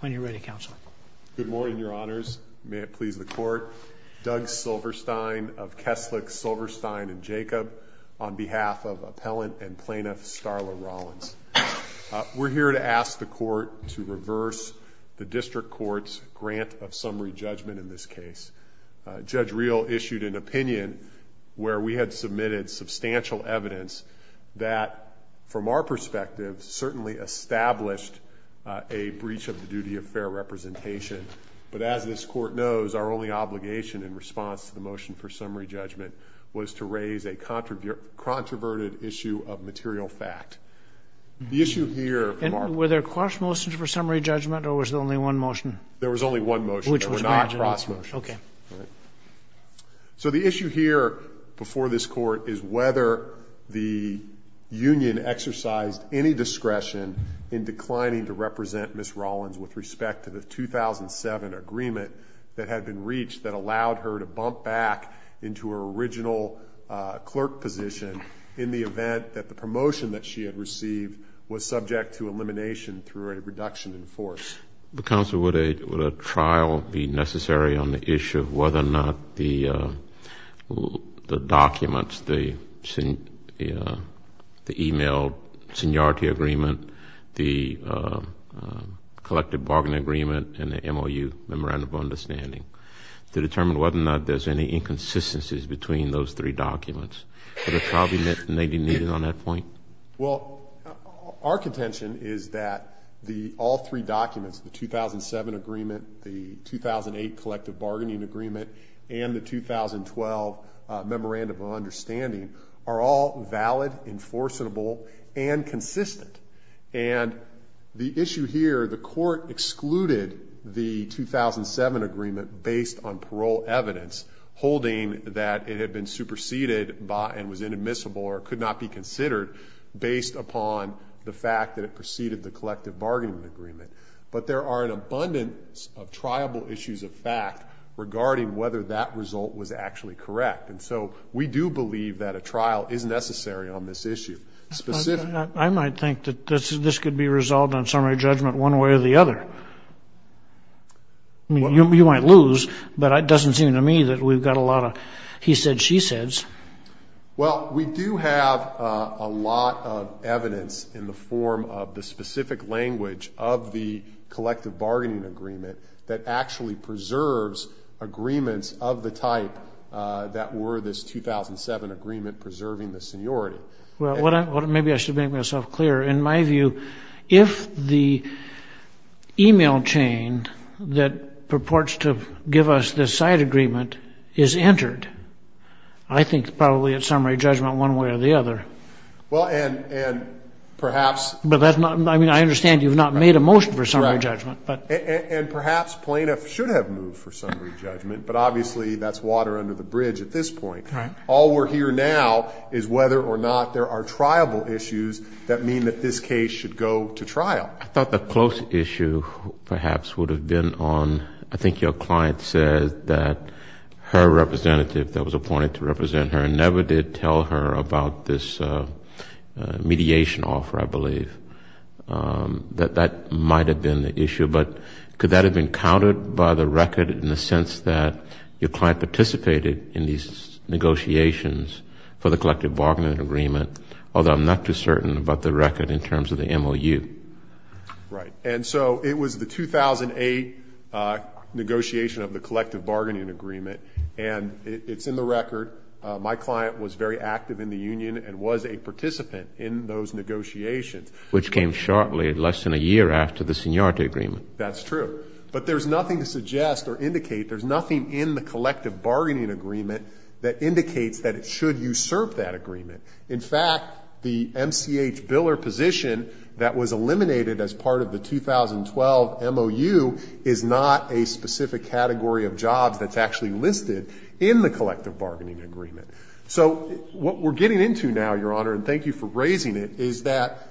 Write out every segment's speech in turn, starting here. When you're ready, Counselor. Good morning, Your Honors. May it please the Court. Doug Silverstein of Kesslick, Silverstein & Jacob on behalf of Appellant and Plaintiff Starla Rollins. We're here to ask the Court to reverse the District Court's grant of summary judgment in this case. Judge Reel issued an opinion where we had submitted substantial evidence that, from our perspective, certainly established a breach of the duty of fair representation. But as this Court knows, our only obligation in response to the motion for summary judgment was to raise a controverted issue of material fact. Were there cross motions for summary judgment, or was there only one motion? There was only one motion. There were not cross motions. Okay. So the issue here before this Court is whether the union exercised any discretion in declining to represent Ms. Rollins with respect to the 2007 agreement that had been reached that allowed her to bump back into her original clerk position in the event that the promotion that she had received was subject to elimination through a reduction in force. Counsel, would a trial be necessary on the issue of whether or not the documents, the e-mail seniority agreement, the collective bargain agreement, and the MOU, memorandum of understanding, to determine whether or not there's any inconsistencies between those three documents? Would a trial be needed on that point? Well, our contention is that all three documents, the 2007 agreement, the 2008 collective bargaining agreement, and the 2012 memorandum of understanding, are all valid, enforceable, and consistent. And the issue here, the Court excluded the 2007 agreement based on parole evidence holding that it had been superseded and was inadmissible or could not be considered based upon the fact that it preceded the collective bargaining agreement. But there are an abundance of triable issues of fact regarding whether that result was actually correct. And so we do believe that a trial is necessary on this issue. I might think that this could be resolved on summary judgment one way or the other. You might lose, but it doesn't seem to me that we've got a lot of he said, she says. Well, we do have a lot of evidence in the form of the specific language of the collective bargaining agreement that actually preserves agreements of the type that were this 2007 agreement preserving the seniority. Well, maybe I should make myself clear. In my view, if the e-mail chain that purports to give us this side agreement is entered, I think probably it's summary judgment one way or the other. Well, and perhaps. But that's not, I mean, I understand you've not made a motion for summary judgment. And perhaps plaintiff should have moved for summary judgment, but obviously that's water under the bridge at this point. All we're here now is whether or not there are triable issues that mean that this case should go to trial. I thought the close issue perhaps would have been on, I think your client said that her representative that was appointed to represent her never did tell her about this mediation offer, I believe. But could that have been countered by the record in the sense that your client participated in these negotiations for the collective bargaining agreement, although I'm not too certain about the record in terms of the MOU? Right. And so it was the 2008 negotiation of the collective bargaining agreement, and it's in the record. My client was very active in the union and was a participant in those negotiations. Which came shortly, less than a year after the seniority agreement. That's true. But there's nothing to suggest or indicate, there's nothing in the collective bargaining agreement that indicates that it should usurp that agreement. In fact, the MCH biller position that was eliminated as part of the 2012 MOU is not a specific category of jobs that's actually listed in the collective bargaining agreement. So what we're getting into now, Your Honor, and thank you for raising it, is that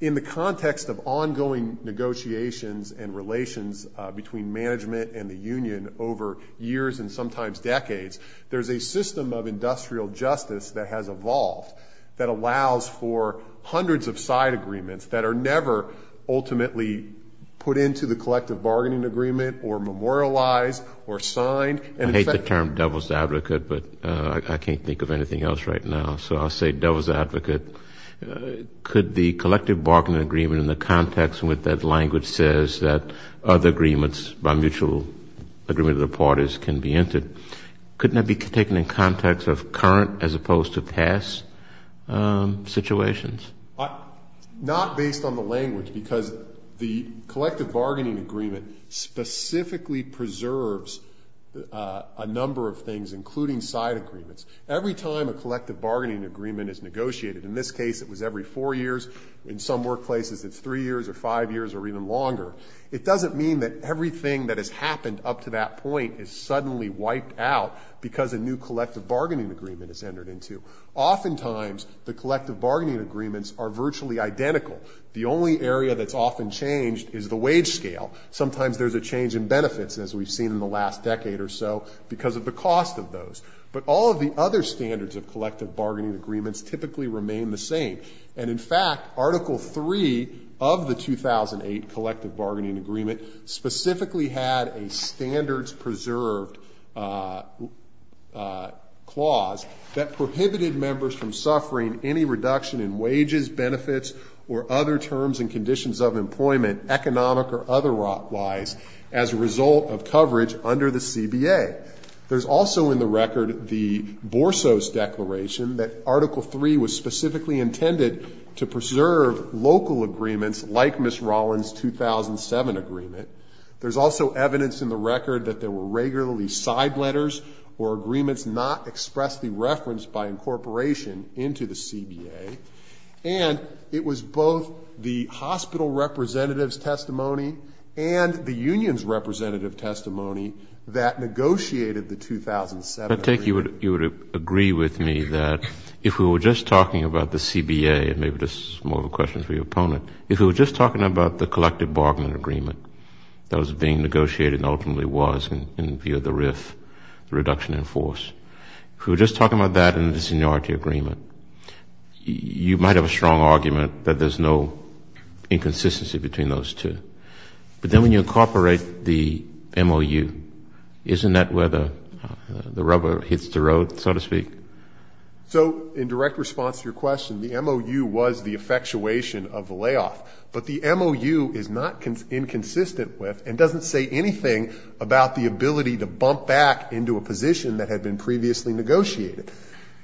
in the context of ongoing negotiations and relations between management and the union over years and sometimes decades, there's a system of industrial justice that has evolved that allows for hundreds of side agreements that are never ultimately put into the collective bargaining agreement or memorialized or signed. I hate the term devil's advocate, but I can't think of anything else right now. So I'll say devil's advocate. Could the collective bargaining agreement in the context with that language says that other agreements by mutual agreement of the parties can be entered, couldn't that be taken in context of current as opposed to past situations? Not based on the language because the collective bargaining agreement specifically preserves a number of things, including side agreements. Every time a collective bargaining agreement is negotiated, in this case it was every four years, in some workplaces it's three years or five years or even longer, it doesn't mean that everything that has happened up to that point is suddenly wiped out because a new collective bargaining agreement is entered into. Oftentimes the collective bargaining agreements are virtually identical. The only area that's often changed is the wage scale. Sometimes there's a change in benefits, as we've seen in the last decade or so, because of the cost of those. But all of the other standards of collective bargaining agreements typically remain the same. And in fact, Article 3 of the 2008 collective bargaining agreement specifically had a standards preserved clause that prohibited members from suffering any reduction in wages, benefits, or other terms and conditions of employment, economic or otherwise, as a result of coverage under the CBA. There's also in the record the Borsos Declaration that Article 3 was specifically intended to preserve local agreements like Ms. Rollins' 2007 agreement. There's also evidence in the record that there were regularly side letters or agreements not expressly referenced by incorporation into the CBA. And it was both the hospital representative's testimony and the union's representative testimony that negotiated the 2007 agreement. I take it you would agree with me that if we were just talking about the CBA, and maybe this is more of a question for your opponent, if we were just talking about the collective bargaining agreement that was being negotiated and ultimately was in view of the RIF, reduction in force, if we were just talking about that and the seniority agreement, you might have a strong argument that there's no inconsistency between those two. But then when you incorporate the MOU, isn't that where the rubber hits the road, so to speak? So in direct response to your question, the MOU was the effectuation of the layoff. But the MOU is not inconsistent with and doesn't say anything about the ability to bump back into a position that had been previously negotiated.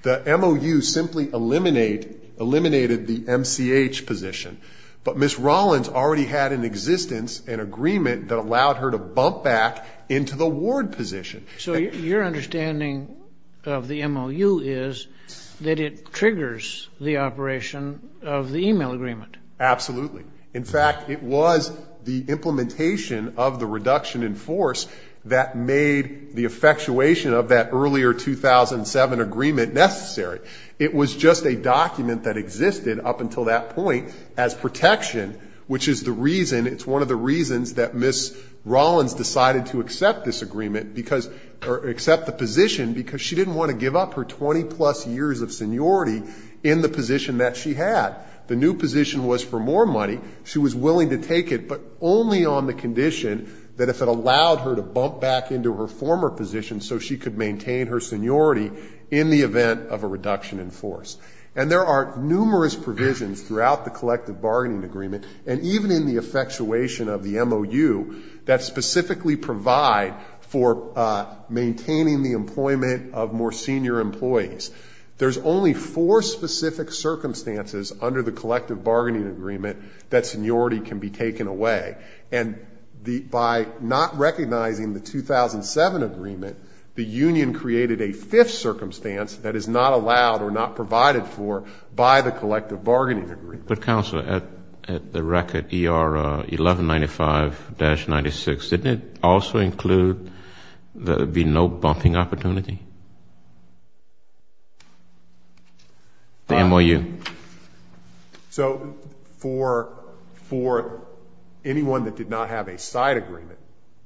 The MOU simply eliminated the MCH position. But Ms. Rollins already had an existence, an agreement, that allowed her to bump back into the ward position. So your understanding of the MOU is that it triggers the operation of the email agreement. Absolutely. In fact, it was the implementation of the reduction in force that made the effectuation of that earlier 2007 agreement necessary. It was just a document that existed up until that point as protection, which is the reason, it's one of the reasons that Ms. Rollins decided to accept this agreement because, or accept the position, because she didn't want to give up her 20-plus years of seniority in the position that she had. The new position was for more money. She was willing to take it, but only on the condition that if it allowed her to bump back into her former position so she could maintain her seniority in the event of a reduction in force. And there are numerous provisions throughout the collective bargaining agreement, and even in the effectuation of the MOU, that specifically provide for maintaining the employment of more senior employees. There's only four specific circumstances under the collective bargaining agreement that seniority can be taken away. And by not recognizing the 2007 agreement, the union created a fifth circumstance that is not allowed or not provided for by the collective bargaining agreement. But, Counselor, at the record, ER 1195-96, didn't it also include there being no bumping opportunity? The MOU. So for anyone that did not have a side agreement,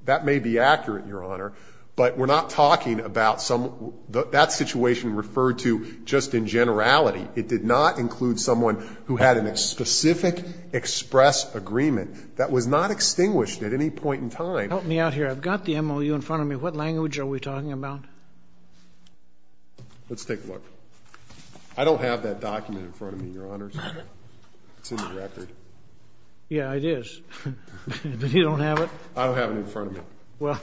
that may be accurate, Your Honor, but we're not talking about some, that situation referred to just in generality. It did not include someone who had a specific express agreement that was not extinguished at any point in time. Help me out here. I've got the MOU in front of me. What language are we talking about? Let's take a look. I don't have that document in front of me, Your Honors. It's in the record. Yeah, it is. But you don't have it? I don't have it in front of me. Well,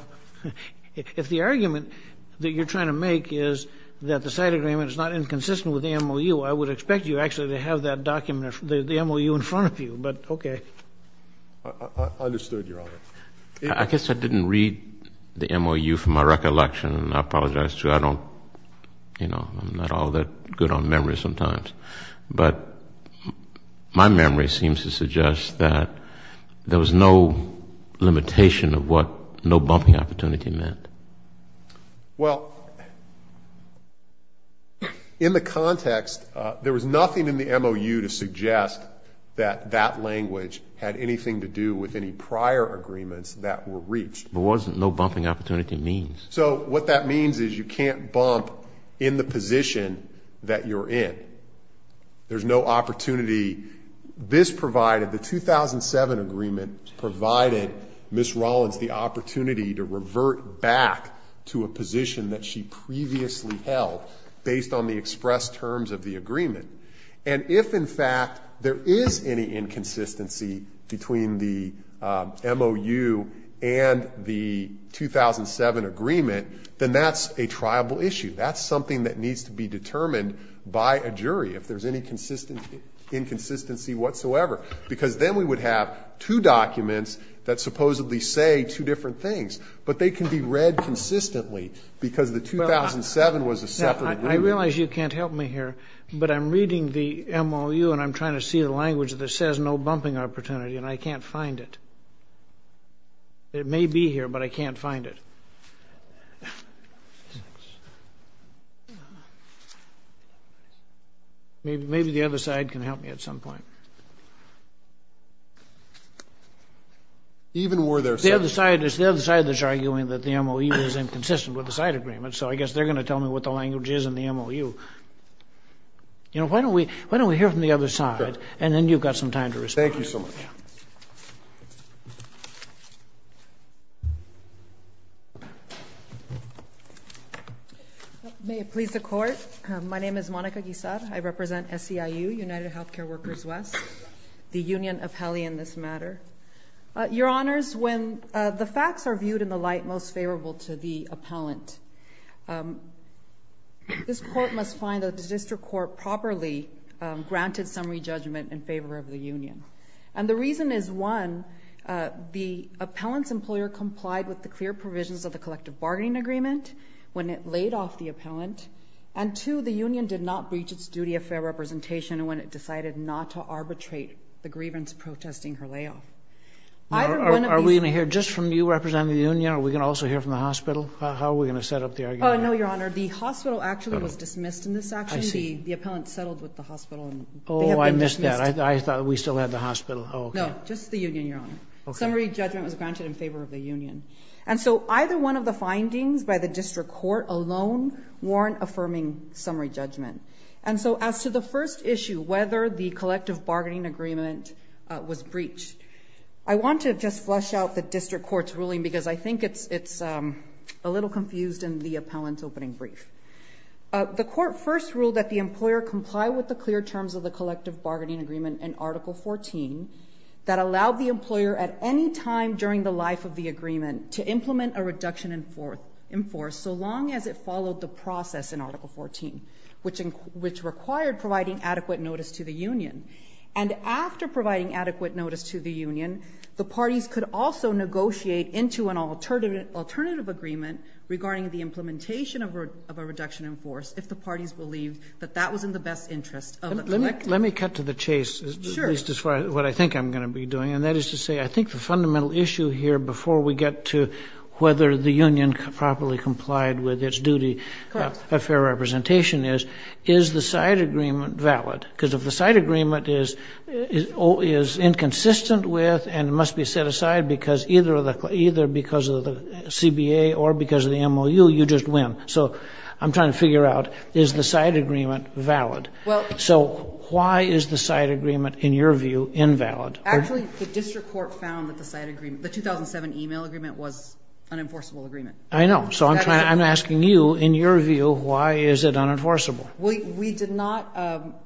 if the argument that you're trying to make is that the side agreement is not inconsistent with the MOU, I would expect you actually to have that document, the MOU, in front of you. But, okay. I understood, Your Honor. I guess I didn't read the MOU from my recollection, and I apologize, too. I don't, you know, I'm not all that good on memory sometimes. But my memory seems to suggest that there was no limitation of what no bumping opportunity meant. Well, in the context, there was nothing in the MOU to suggest that that language had anything to do with any prior agreements that were reached. There was no bumping opportunity means. So what that means is you can't bump in the position that you're in. There's no opportunity. This provided, the 2007 agreement provided Ms. Rollins the opportunity to revert back to a position that she previously held based on the expressed terms of the agreement. And if, in fact, there is any inconsistency between the MOU and the 2007 agreement, then that's a triable issue. That's something that needs to be determined by a jury. If there's any inconsistency whatsoever. Because then we would have two documents that supposedly say two different things. But they can be read consistently because the 2007 was a separate agreement. I realize you can't help me here, but I'm reading the MOU, and I'm trying to see the language that says no bumping opportunity, and I can't find it. It may be here, but I can't find it. Thanks. Maybe the other side can help me at some point. The other side is arguing that the MOU is inconsistent with the side agreement, so I guess they're going to tell me what the language is in the MOU. Why don't we hear from the other side, and then you've got some time to respond. Thank you so much. May it please the Court. My name is Monica Guisar. I represent SEIU, United Healthcare Workers West, the union appellee in this matter. Your Honors, when the facts are viewed in the light most favorable to the appellant, this Court must find that the district court properly granted some re-judgment in favor of the union. And the reason is, one, the appellant's employer complied with the clear provisions of the collective bargaining agreement when it laid off the appellant, and two, the union did not breach its duty of fair representation when it decided not to arbitrate the grievance protesting her layoff. Your Honor, are we going to also hear from the hospital? How are we going to set up the argument? No, Your Honor, the hospital actually was dismissed in this action. The appellant settled with the hospital. Oh, I missed that. I thought we still had the hospital. No, just the union, Your Honor. Summary judgment was granted in favor of the union. And so either one of the findings by the district court alone warrant affirming summary judgment. And so as to the first issue, whether the collective bargaining agreement was breached, I want to just flush out the district court's ruling because I think it's a little confused in the appellant's opening brief. The court first ruled that the employer complied with the clear terms of the collective bargaining agreement in Article 14 that allowed the employer at any time during the life of the agreement to implement a reduction in force so long as it followed the process in Article 14, which required providing adequate notice to the union. And after providing adequate notice to the union, the parties could also negotiate into an alternative agreement regarding the implementation of a reduction in force if the parties believed that that was in the best interest of the collective. Let me cut to the chase, at least as far as what I think I'm going to be doing, and that is to say I think the fundamental issue here before we get to whether the union properly complied with its duty of fair representation is, is the side agreement valid? Because if the side agreement is inconsistent with and must be set aside because either because of the CBA or because of the MOU, you just win. So I'm trying to figure out, is the side agreement valid? So why is the side agreement, in your view, invalid? Actually, the district court found that the 2007 email agreement was an enforceable agreement. I know. So I'm asking you, in your view, why is it unenforceable? We did not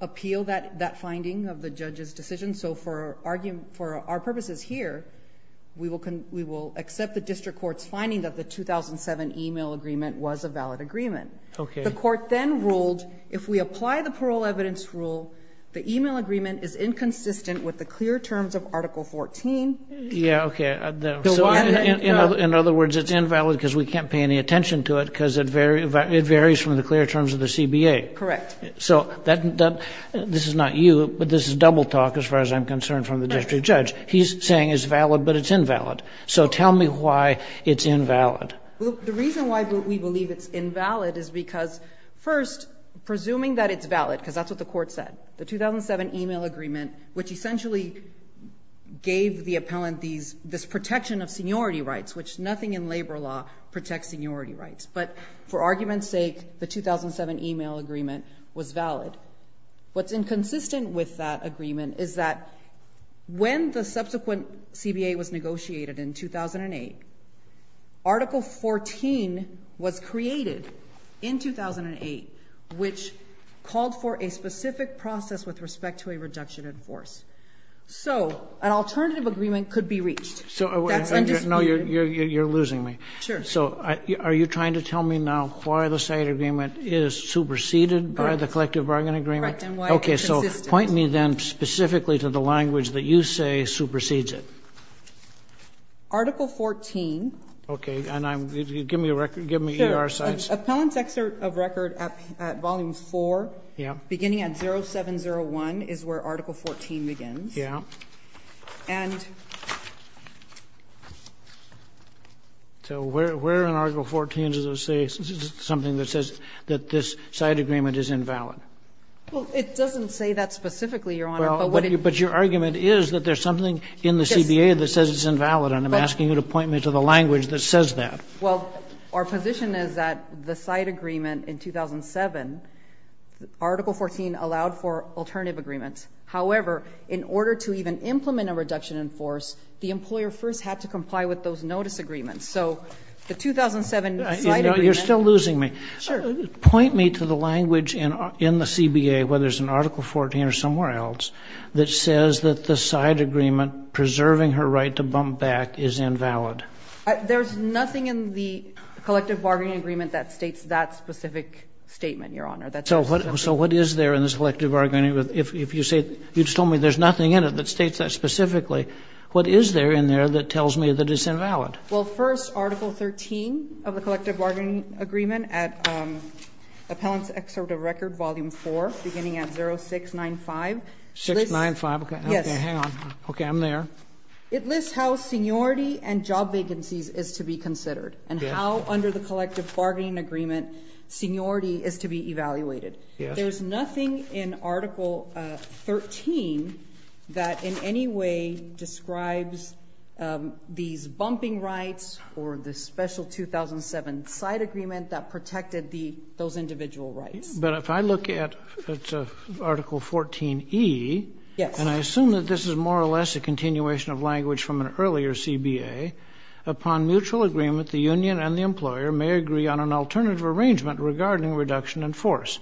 appeal that finding of the judge's decision. So for our purposes here, we will accept the district court's finding that the 2007 email agreement was a valid agreement. Okay. The court then ruled if we apply the parole evidence rule, the email agreement is inconsistent with the clear terms of Article 14. Yeah, okay. In other words, it's invalid because we can't pay any attention to it because it varies from the clear terms of the CBA. Correct. So this is not you, but this is double talk as far as I'm concerned from the district judge. He's saying it's valid, but it's invalid. So tell me why it's invalid. Well, the reason why we believe it's invalid is because, first, presuming that it's valid, because that's what the court said, the 2007 email agreement, which essentially gave the appellant this protection of seniority rights, which nothing in labor law protects seniority rights. But for argument's sake, the 2007 email agreement was valid. What's inconsistent with that agreement is that when the subsequent CBA was negotiated in 2008, Article 14 was created in 2008, which called for a specific process with respect to a reduction in force. So an alternative agreement could be reached. No, you're losing me. Sure. So are you trying to tell me now why the site agreement is superseded by the collective bargain agreement? Correct, and why it's consistent. Okay. So point me then specifically to the language that you say supersedes it. Article 14. Okay. And I'm going to give me a record, give me ER sites. Sure. Appellant's excerpt of record at Volume 4, beginning at 0701, is where Article 14 begins. Yeah. So where in Article 14 does it say something that says that this site agreement is invalid? Well, it doesn't say that specifically, Your Honor. But your argument is that there's something in the CBA that says it's invalid, and I'm asking you to point me to the language that says that. Well, our position is that the site agreement in 2007, Article 14 allowed for alternative agreements. However, in order to even implement a reduction in force, the employer first had to comply with those notice agreements. So the 2007 site agreement. You're still losing me. Sure. Point me to the language in the CBA, whether it's in Article 14 or somewhere else, that says that the site agreement preserving her right to bump back is invalid. There's nothing in the collective bargaining agreement that states that specific statement, Your Honor. So what is there in this collective bargaining agreement? You just told me there's nothing in it that states that specifically. What is there in there that tells me that it's invalid? Well, first, Article 13 of the collective bargaining agreement at Appellant's Excerpt of Record, Volume 4, beginning at 0695. 0695. Okay. Hang on. Okay. I'm there. It lists how seniority and job vacancies is to be considered and how, under the collective bargaining agreement, seniority is to be evaluated. Yes. There's nothing in Article 13 that in any way describes these bumping rights or the special 2007 site agreement that protected those individual rights. But if I look at Article 14E. Yes. And I assume that this is more or less a continuation of language from an earlier upon mutual agreement, the union and the employer may agree on an alternative arrangement regarding reduction in force.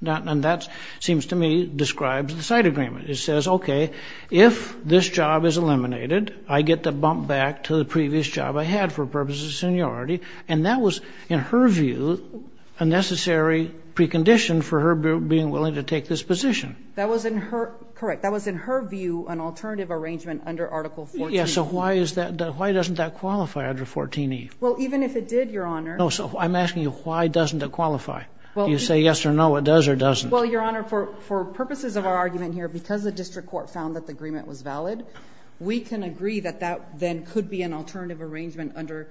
And that seems to me describes the site agreement. It says, okay, if this job is eliminated, I get the bump back to the previous job I had for purposes of seniority. And that was, in her view, a necessary precondition for her being willing to take this position. That was in her ñ correct. That was in her view an alternative arrangement under Article 14E. Yes. So why is that ñ why doesn't that qualify under 14E? Well, even if it did, Your Honor ñ No. So I'm asking you, why doesn't it qualify? Do you say yes or no, it does or doesn't? Well, Your Honor, for purposes of our argument here, because the district court found that the agreement was valid, we can agree that that then could be an alternative arrangement under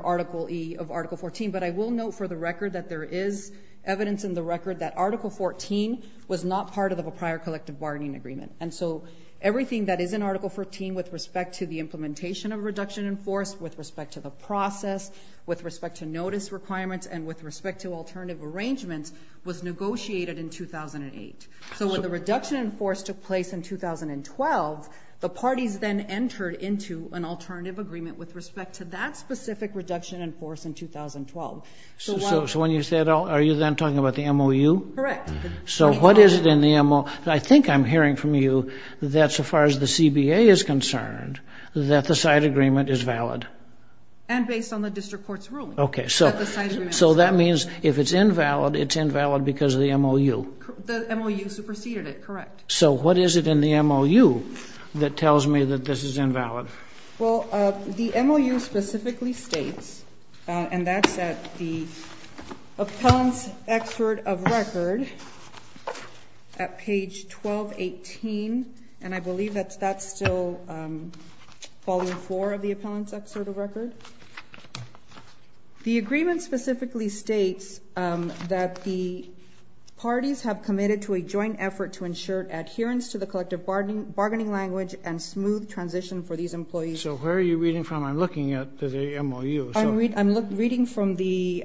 Article E of Article 14. But I will note for the record that there is evidence in the record that Article 14 was not part of a prior collective bargaining agreement. And so everything that is in Article 14 with respect to the implementation of reduction in force, with respect to the process, with respect to notice requirements, and with respect to alternative arrangements was negotiated in 2008. So when the reduction in force took place in 2012, the parties then entered into an alternative agreement with respect to that specific reduction in force in 2012. So when you say that, are you then talking about the MOU? Correct. So what is it in the MOU? Well, I think I'm hearing from you that so far as the CBA is concerned, that the side agreement is valid. And based on the district court's ruling. Okay. So that means if it's invalid, it's invalid because of the MOU. The MOU superseded it, correct. So what is it in the MOU that tells me that this is invalid? Well, the MOU specifically states, and that's at the Appellant's Excerpt of Record at page 1218, and I believe that's still Volume 4 of the Appellant's Excerpt of Record. The agreement specifically states that the parties have committed to a joint effort to ensure adherence to the collective bargaining language and smooth transition for these employees. So where are you reading from? I'm looking at the MOU. I'm reading from the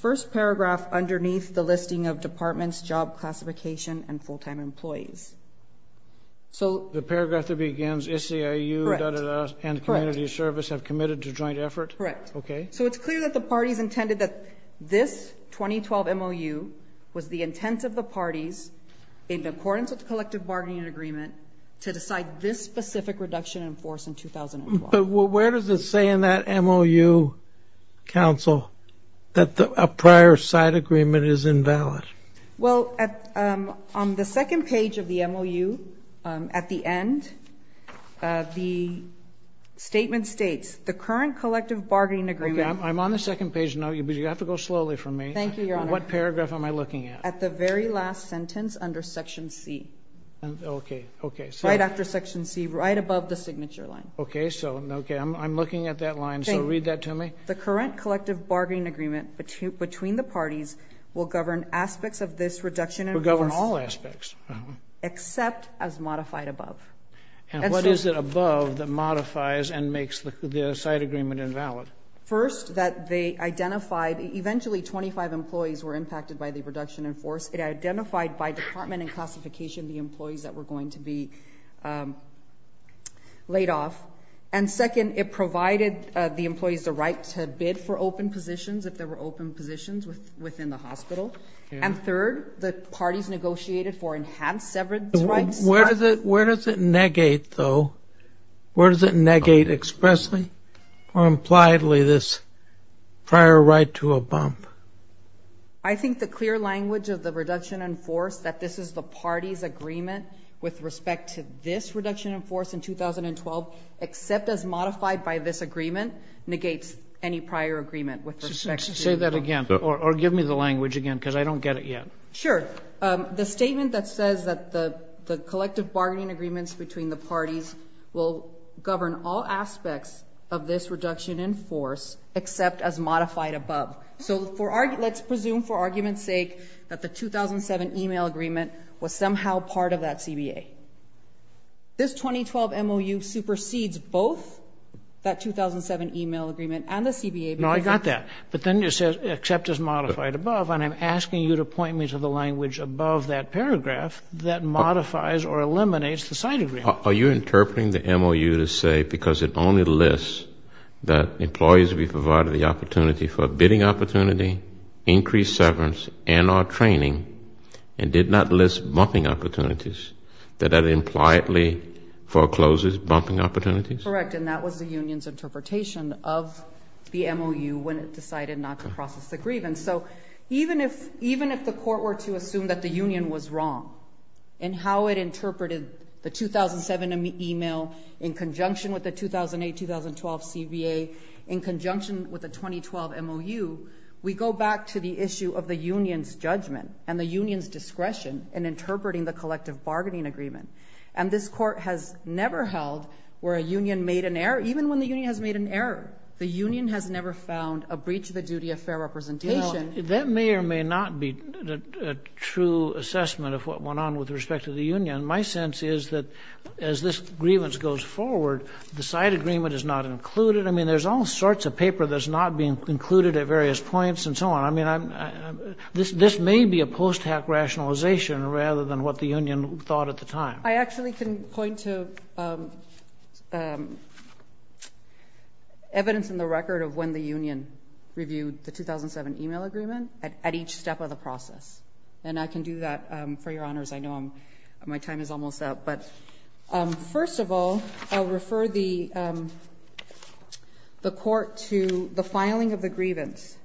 first paragraph underneath the listing of departments, job classification, and full-time employees. The paragraph that begins, SCIU, da da da, and Community Service have committed to joint effort? Correct. Okay. So it's clear that the parties intended that this 2012 MOU was the intent of the parties in accordance with the collective bargaining agreement to decide this specific reduction in force in 2012. But where does it say in that MOU, Counsel, that a prior side agreement is invalid? Well, on the second page of the MOU at the end, the statement states, the current collective bargaining agreement. Okay, I'm on the second page now, but you have to go slowly for me. Thank you, Your Honor. What paragraph am I looking at? At the very last sentence under Section C. Okay, okay. Right after Section C, right above the signature line. Okay, so I'm looking at that line, so read that to me. The current collective bargaining agreement between the parties will govern aspects of this reduction in force. Will govern all aspects. Except as modified above. And what is it above that modifies and makes the side agreement invalid? First, that they identified, eventually 25 employees were impacted by the reduction in force. It identified by department and classification the employees that were going to be laid off. And second, it provided the employees the right to bid for open positions, if there were open positions within the hospital. And third, the parties negotiated for enhanced severance rights. Where does it negate, though? Where does it negate expressly or impliedly this prior right to a bump? I think the clear language of the reduction in force, that this is the party's agreement with respect to this reduction in force in 2012, except as modified by this agreement, negates any prior agreement with respect to the employees. Say that again. Or give me the language again, because I don't get it yet. Sure. The statement that says that the collective bargaining agreements between the parties will govern all aspects of this reduction in force, except as modified above. So let's presume for argument's sake that the 2007 e-mail agreement was somehow part of that CBA. This 2012 MOU supersedes both that 2007 e-mail agreement and the CBA. No, I got that. But then it says except as modified above, and I'm asking you to point me to the language above that paragraph that modifies or eliminates the site agreement. Are you interpreting the MOU to say because it only lists that employees will be provided the opportunity for a bidding opportunity, increased severance, and or training, and did not list bumping opportunities, that that impliedly forecloses bumping opportunities? Correct, and that was the union's interpretation of the MOU when it decided not to process the grievance. So even if the court were to assume that the union was wrong in how it interpreted the 2007 e-mail in conjunction with the 2008-2012 CBA, in conjunction with the 2012 MOU, we go back to the issue of the union's judgment and the union's discretion in interpreting the collective bargaining agreement. And this Court has never held where a union made an error, even when the union has made an error. The union has never found a breach of the duty of fair representation. That may or may not be a true assessment of what went on with respect to the union. My sense is that as this grievance goes forward, the site agreement is not included. I mean, there's all sorts of paper that's not being included at various points and so on. I mean, this may be a post-hack rationalization rather than what the union thought at the time. I actually can point to evidence in the record of when the union reviewed the 2007 e-mail agreement at each step of the process, and I can do that. For your honors, I know my time is almost up. But first of all, I'll refer the Court to the filing of the grievance.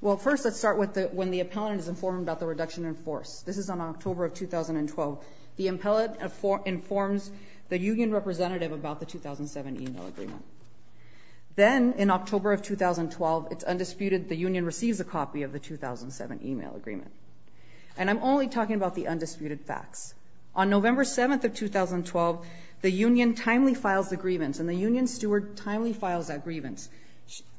Well, first let's start with when the appellant is informed about the reduction in force. This is on October of 2012. The appellant informs the union representative about the 2007 e-mail agreement. Then in October of 2012, it's undisputed the union receives a copy of the 2007 e-mail agreement. And I'm only talking about the undisputed facts. On November 7th of 2012, the union timely files the grievance, and the union steward timely files that grievance.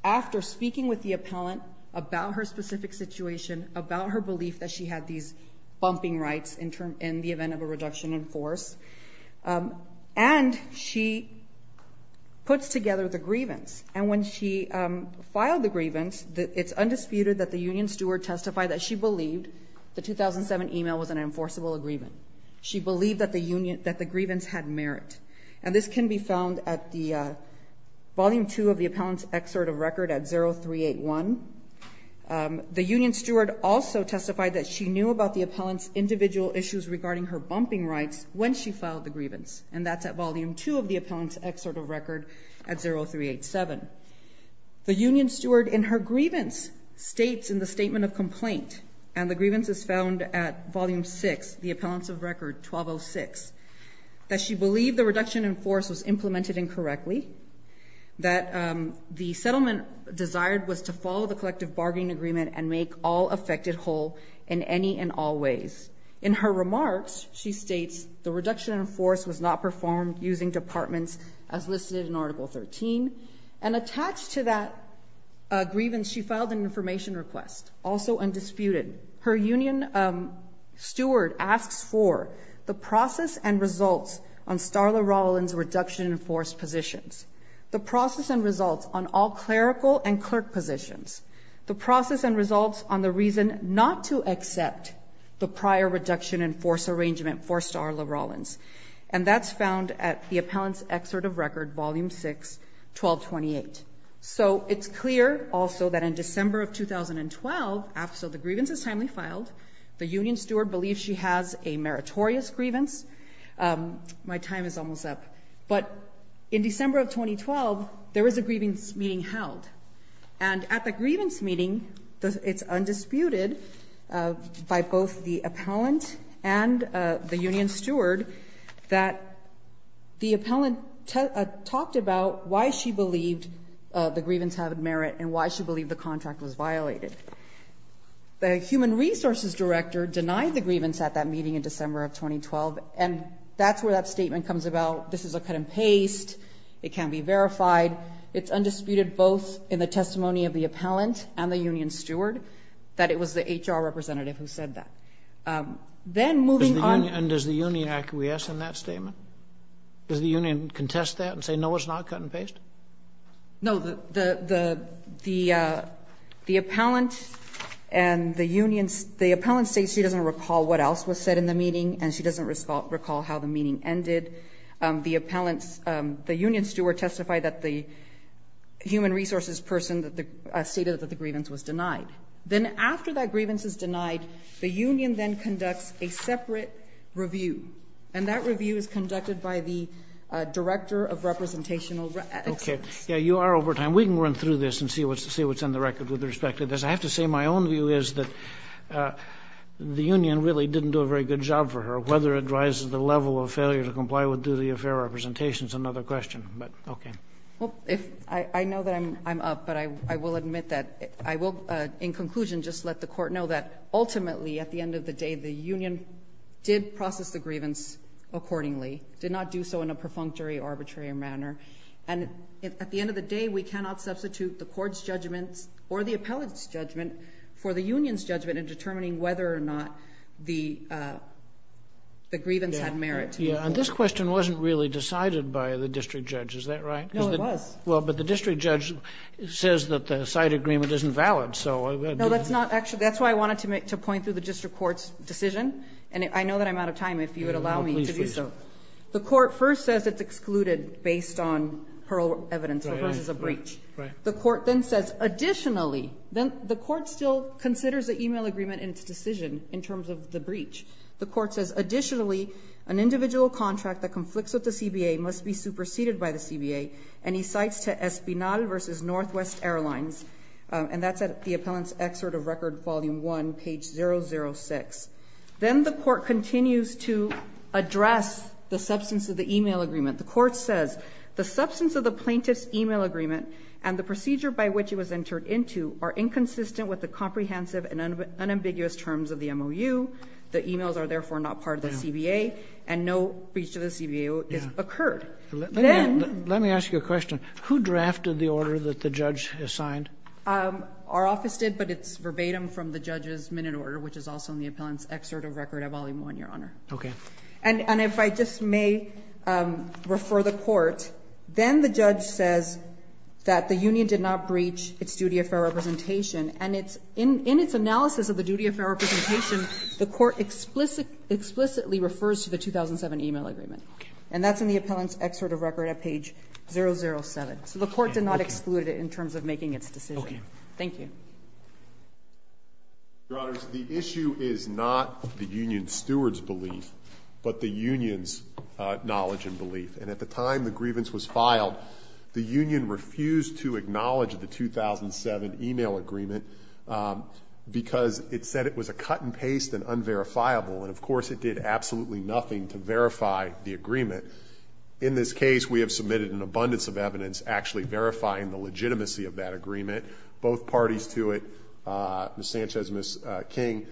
After speaking with the appellant about her specific situation, about her belief that she had these bumping rights in the event of a reduction in force, and she puts together the grievance. And when she filed the grievance, it's undisputed that the union steward testified that she believed the 2007 e-mail was an enforceable agreement. She believed that the grievance had merit. And this can be found at Volume 2 of the appellant's excerpt of record at 0381. The union steward also testified that she knew about the appellant's individual issues regarding her bumping rights when she filed the grievance, and that's at Volume 2 of the appellant's excerpt of record at 0387. The union steward in her grievance states in the statement of complaint, and the grievance is found at Volume 6, the appellant's of record 1206, that she believed the reduction in force was implemented incorrectly, that the settlement desired was to follow the collective bargaining agreement and make all affected whole in any and all ways. In her remarks, she states the reduction in force was not performed using departments as listed in Article 13. And attached to that grievance, she filed an information request, also undisputed. Her union steward asks for the process and results on Starla Rollins' reduction in force positions, the process and results on all clerical and clerk positions, the process and results on the reason not to accept the prior reduction in force arrangement for Starla Rollins. And that's found at the appellant's excerpt of record, Volume 6, 1228. So it's clear also that in December of 2012, after the grievance is timely filed, the union steward believes she has a meritorious grievance. My time is almost up. But in December of 2012, there is a grievance meeting held. And at the grievance meeting, it's undisputed by both the appellant and the union steward that the appellant talked about why she believed the grievance had merit and why she believed the contract was violated. The human resources director denied the grievance at that meeting in December of 2012, and that's where that statement comes about. This is a cut and paste. It can't be verified. It's undisputed both in the testimony of the appellant and the union steward that it was the HR representative who said that. Then moving on to the union. And does the union acquiesce in that statement? Does the union contest that and say, no, it's not cut and paste? No. The appellant and the union, the appellant states she doesn't recall what else was said in the meeting and she doesn't recall how the meeting ended. The union steward testified that the human resources person stated that the grievance was denied. Then after that grievance is denied, the union then conducts a separate review, and that review is conducted by the director of representational excellence. Okay. Yeah, you are over time. We can run through this and see what's on the record with respect to this. I have to say my own view is that the union really didn't do a very good job for her, whether it drives the level of failure to comply with duty of fair representation is another question. But, okay. Well, I know that I'm up, but I will admit that I will, in conclusion, just let the Court know that ultimately, at the end of the day, the union did process the grievance accordingly, did not do so in a perfunctory, arbitrary manner, and at the end of the day, we cannot substitute the court's judgment or the appellant's judgment for the union's judgment in determining whether or not the grievance had merit to the court. Yeah, and this question wasn't really decided by the district judge. Is that right? No, it was. Well, but the district judge says that the side agreement isn't valid. No, that's why I wanted to point to the district court's decision, and I know that I'm out of time if you would allow me to do so. The court first says it's excluded based on parole evidence versus a breach. Right. The court then says additionally, the court still considers the e-mail agreement in its decision in terms of the breach. The court says additionally, an individual contract that conflicts with the CBA must be superseded by the CBA, and he cites to Espinal versus Northwest Airlines, and that's at the appellant's excerpt of Record Volume 1, page 006. Then the court continues to address the substance of the e-mail agreement. The court says the substance of the plaintiff's e-mail agreement and the procedure by which it was entered into are inconsistent with the comprehensive and unambiguous terms of the MOU. The e-mails are therefore not part of the CBA, and no breach to the CBA is occurred. with the comprehensive and unambiguous terms of the MOU. Let me ask you a question. Who drafted the order that the judge assigned? Our office did, but it's verbatim from the judge's minute order, which is also in the appellant's excerpt of Record Volume 1, Your Honor. Okay. And if I just may refer the court, then the judge says that the union did not breach its duty of fair representation, and in its analysis of the duty of fair representation, the court explicitly refers to the 2007 e-mail agreement. Okay. And that's in the appellant's excerpt of Record at page 007. So the court did not exclude it in terms of making its decision. Okay. Thank you. Your Honors, the issue is not the union steward's belief, but the union's knowledge and belief. And at the time the grievance was filed, the union refused to acknowledge the 2007 e-mail agreement because it said it was a cut-and-paste and unverifiable, and of course it did absolutely nothing to verify the agreement. In this case, we have submitted an abundance of evidence actually verifying the legitimacy of that agreement. Both parties to it, Ms. Sanchez and Ms. King,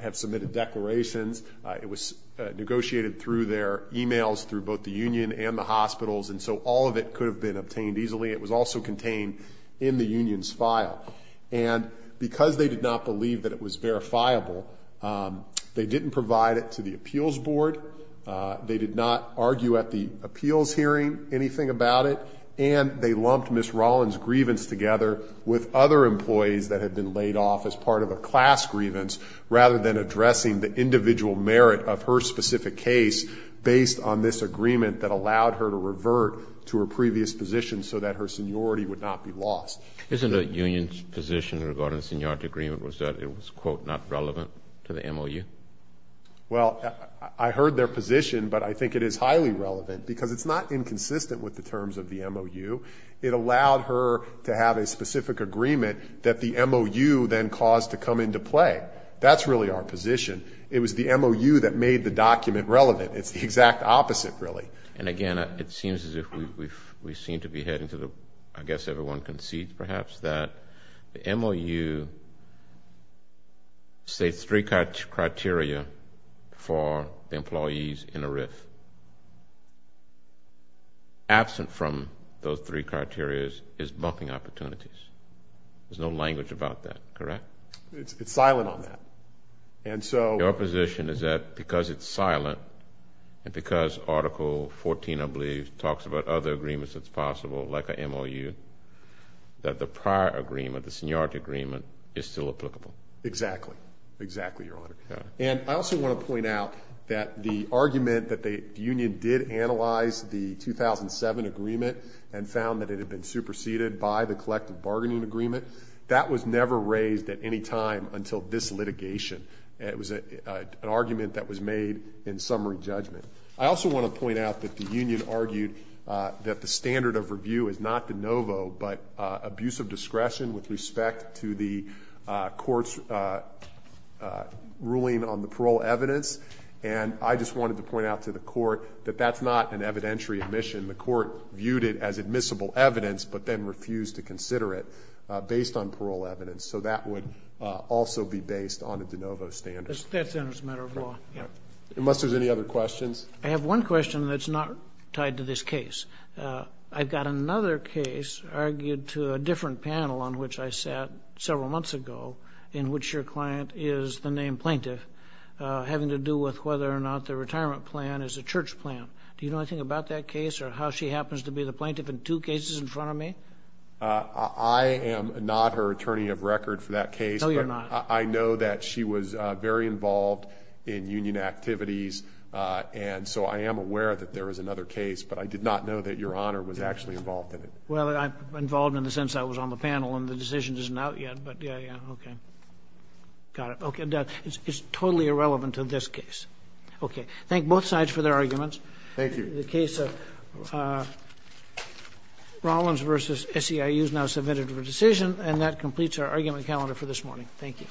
have submitted declarations. It was negotiated through their e-mails through both the union and the hospitals, and so all of it could have been obtained easily. It was also contained in the union's file. And because they did not believe that it was verifiable, they didn't provide it to the appeals board, they did not argue at the appeals hearing anything about it, and they lumped Ms. Rollins' grievance together with other employees that had been laid off as part of a class grievance, rather than addressing the individual merit of her specific case based on this agreement that allowed her to revert to her previous position so that her seniority would not be lost. Isn't the union's position regarding the seniority agreement was that it was, quote, not relevant to the MOU? Well, I heard their position, but I think it is highly relevant because it's not inconsistent with the terms of the MOU. It allowed her to have a specific agreement that the MOU then caused to come into play. That's really our position. It was the MOU that made the document relevant. It's the exact opposite, really. And again, it seems as if we seem to be heading to the, I guess everyone concedes perhaps, that the MOU states three criteria for the employees in a RIF. Absent from those three criteria is bumping opportunities. There's no language about that, correct? It's silent on that. Your position is that because it's silent and because Article 14, I believe, talks about other agreements that's possible, like a MOU, that the prior agreement, the seniority agreement, is still applicable. Exactly. Exactly, Your Honor. And I also want to point out that the argument that the union did analyze the 2007 agreement and found that it had been superseded by the collective bargaining agreement, that was never raised at any time until this litigation. It was an argument that was made in summary judgment. I also want to point out that the union argued that the standard of review is not de novo but abuse of discretion with respect to the court's ruling on the parole evidence. And I just wanted to point out to the court that that's not an evidentiary admission. The court viewed it as admissible evidence but then refused to consider it based on parole evidence. So that would also be based on a de novo standard. That's under the matter of law. Unless there's any other questions. I have one question that's not tied to this case. I've got another case argued to a different panel on which I sat several months ago in which your client is the named plaintiff, having to do with whether or not the retirement plan is a church plan. Do you know anything about that case or how she happens to be the plaintiff in two cases in front of me? I am not her attorney of record for that case. No, you're not. I know that she was very involved in union activities. And so I am aware that there is another case. But I did not know that Your Honor was actually involved in it. Well, I'm involved in the sense I was on the panel and the decision isn't out yet. But, yeah, yeah. Okay. Got it. Okay. It's totally irrelevant to this case. Okay. Thank both sides for their arguments. Thank you. The case of Rollins v. SEIU is now submitted for decision. And that completes our argument calendar for this morning. Thank you.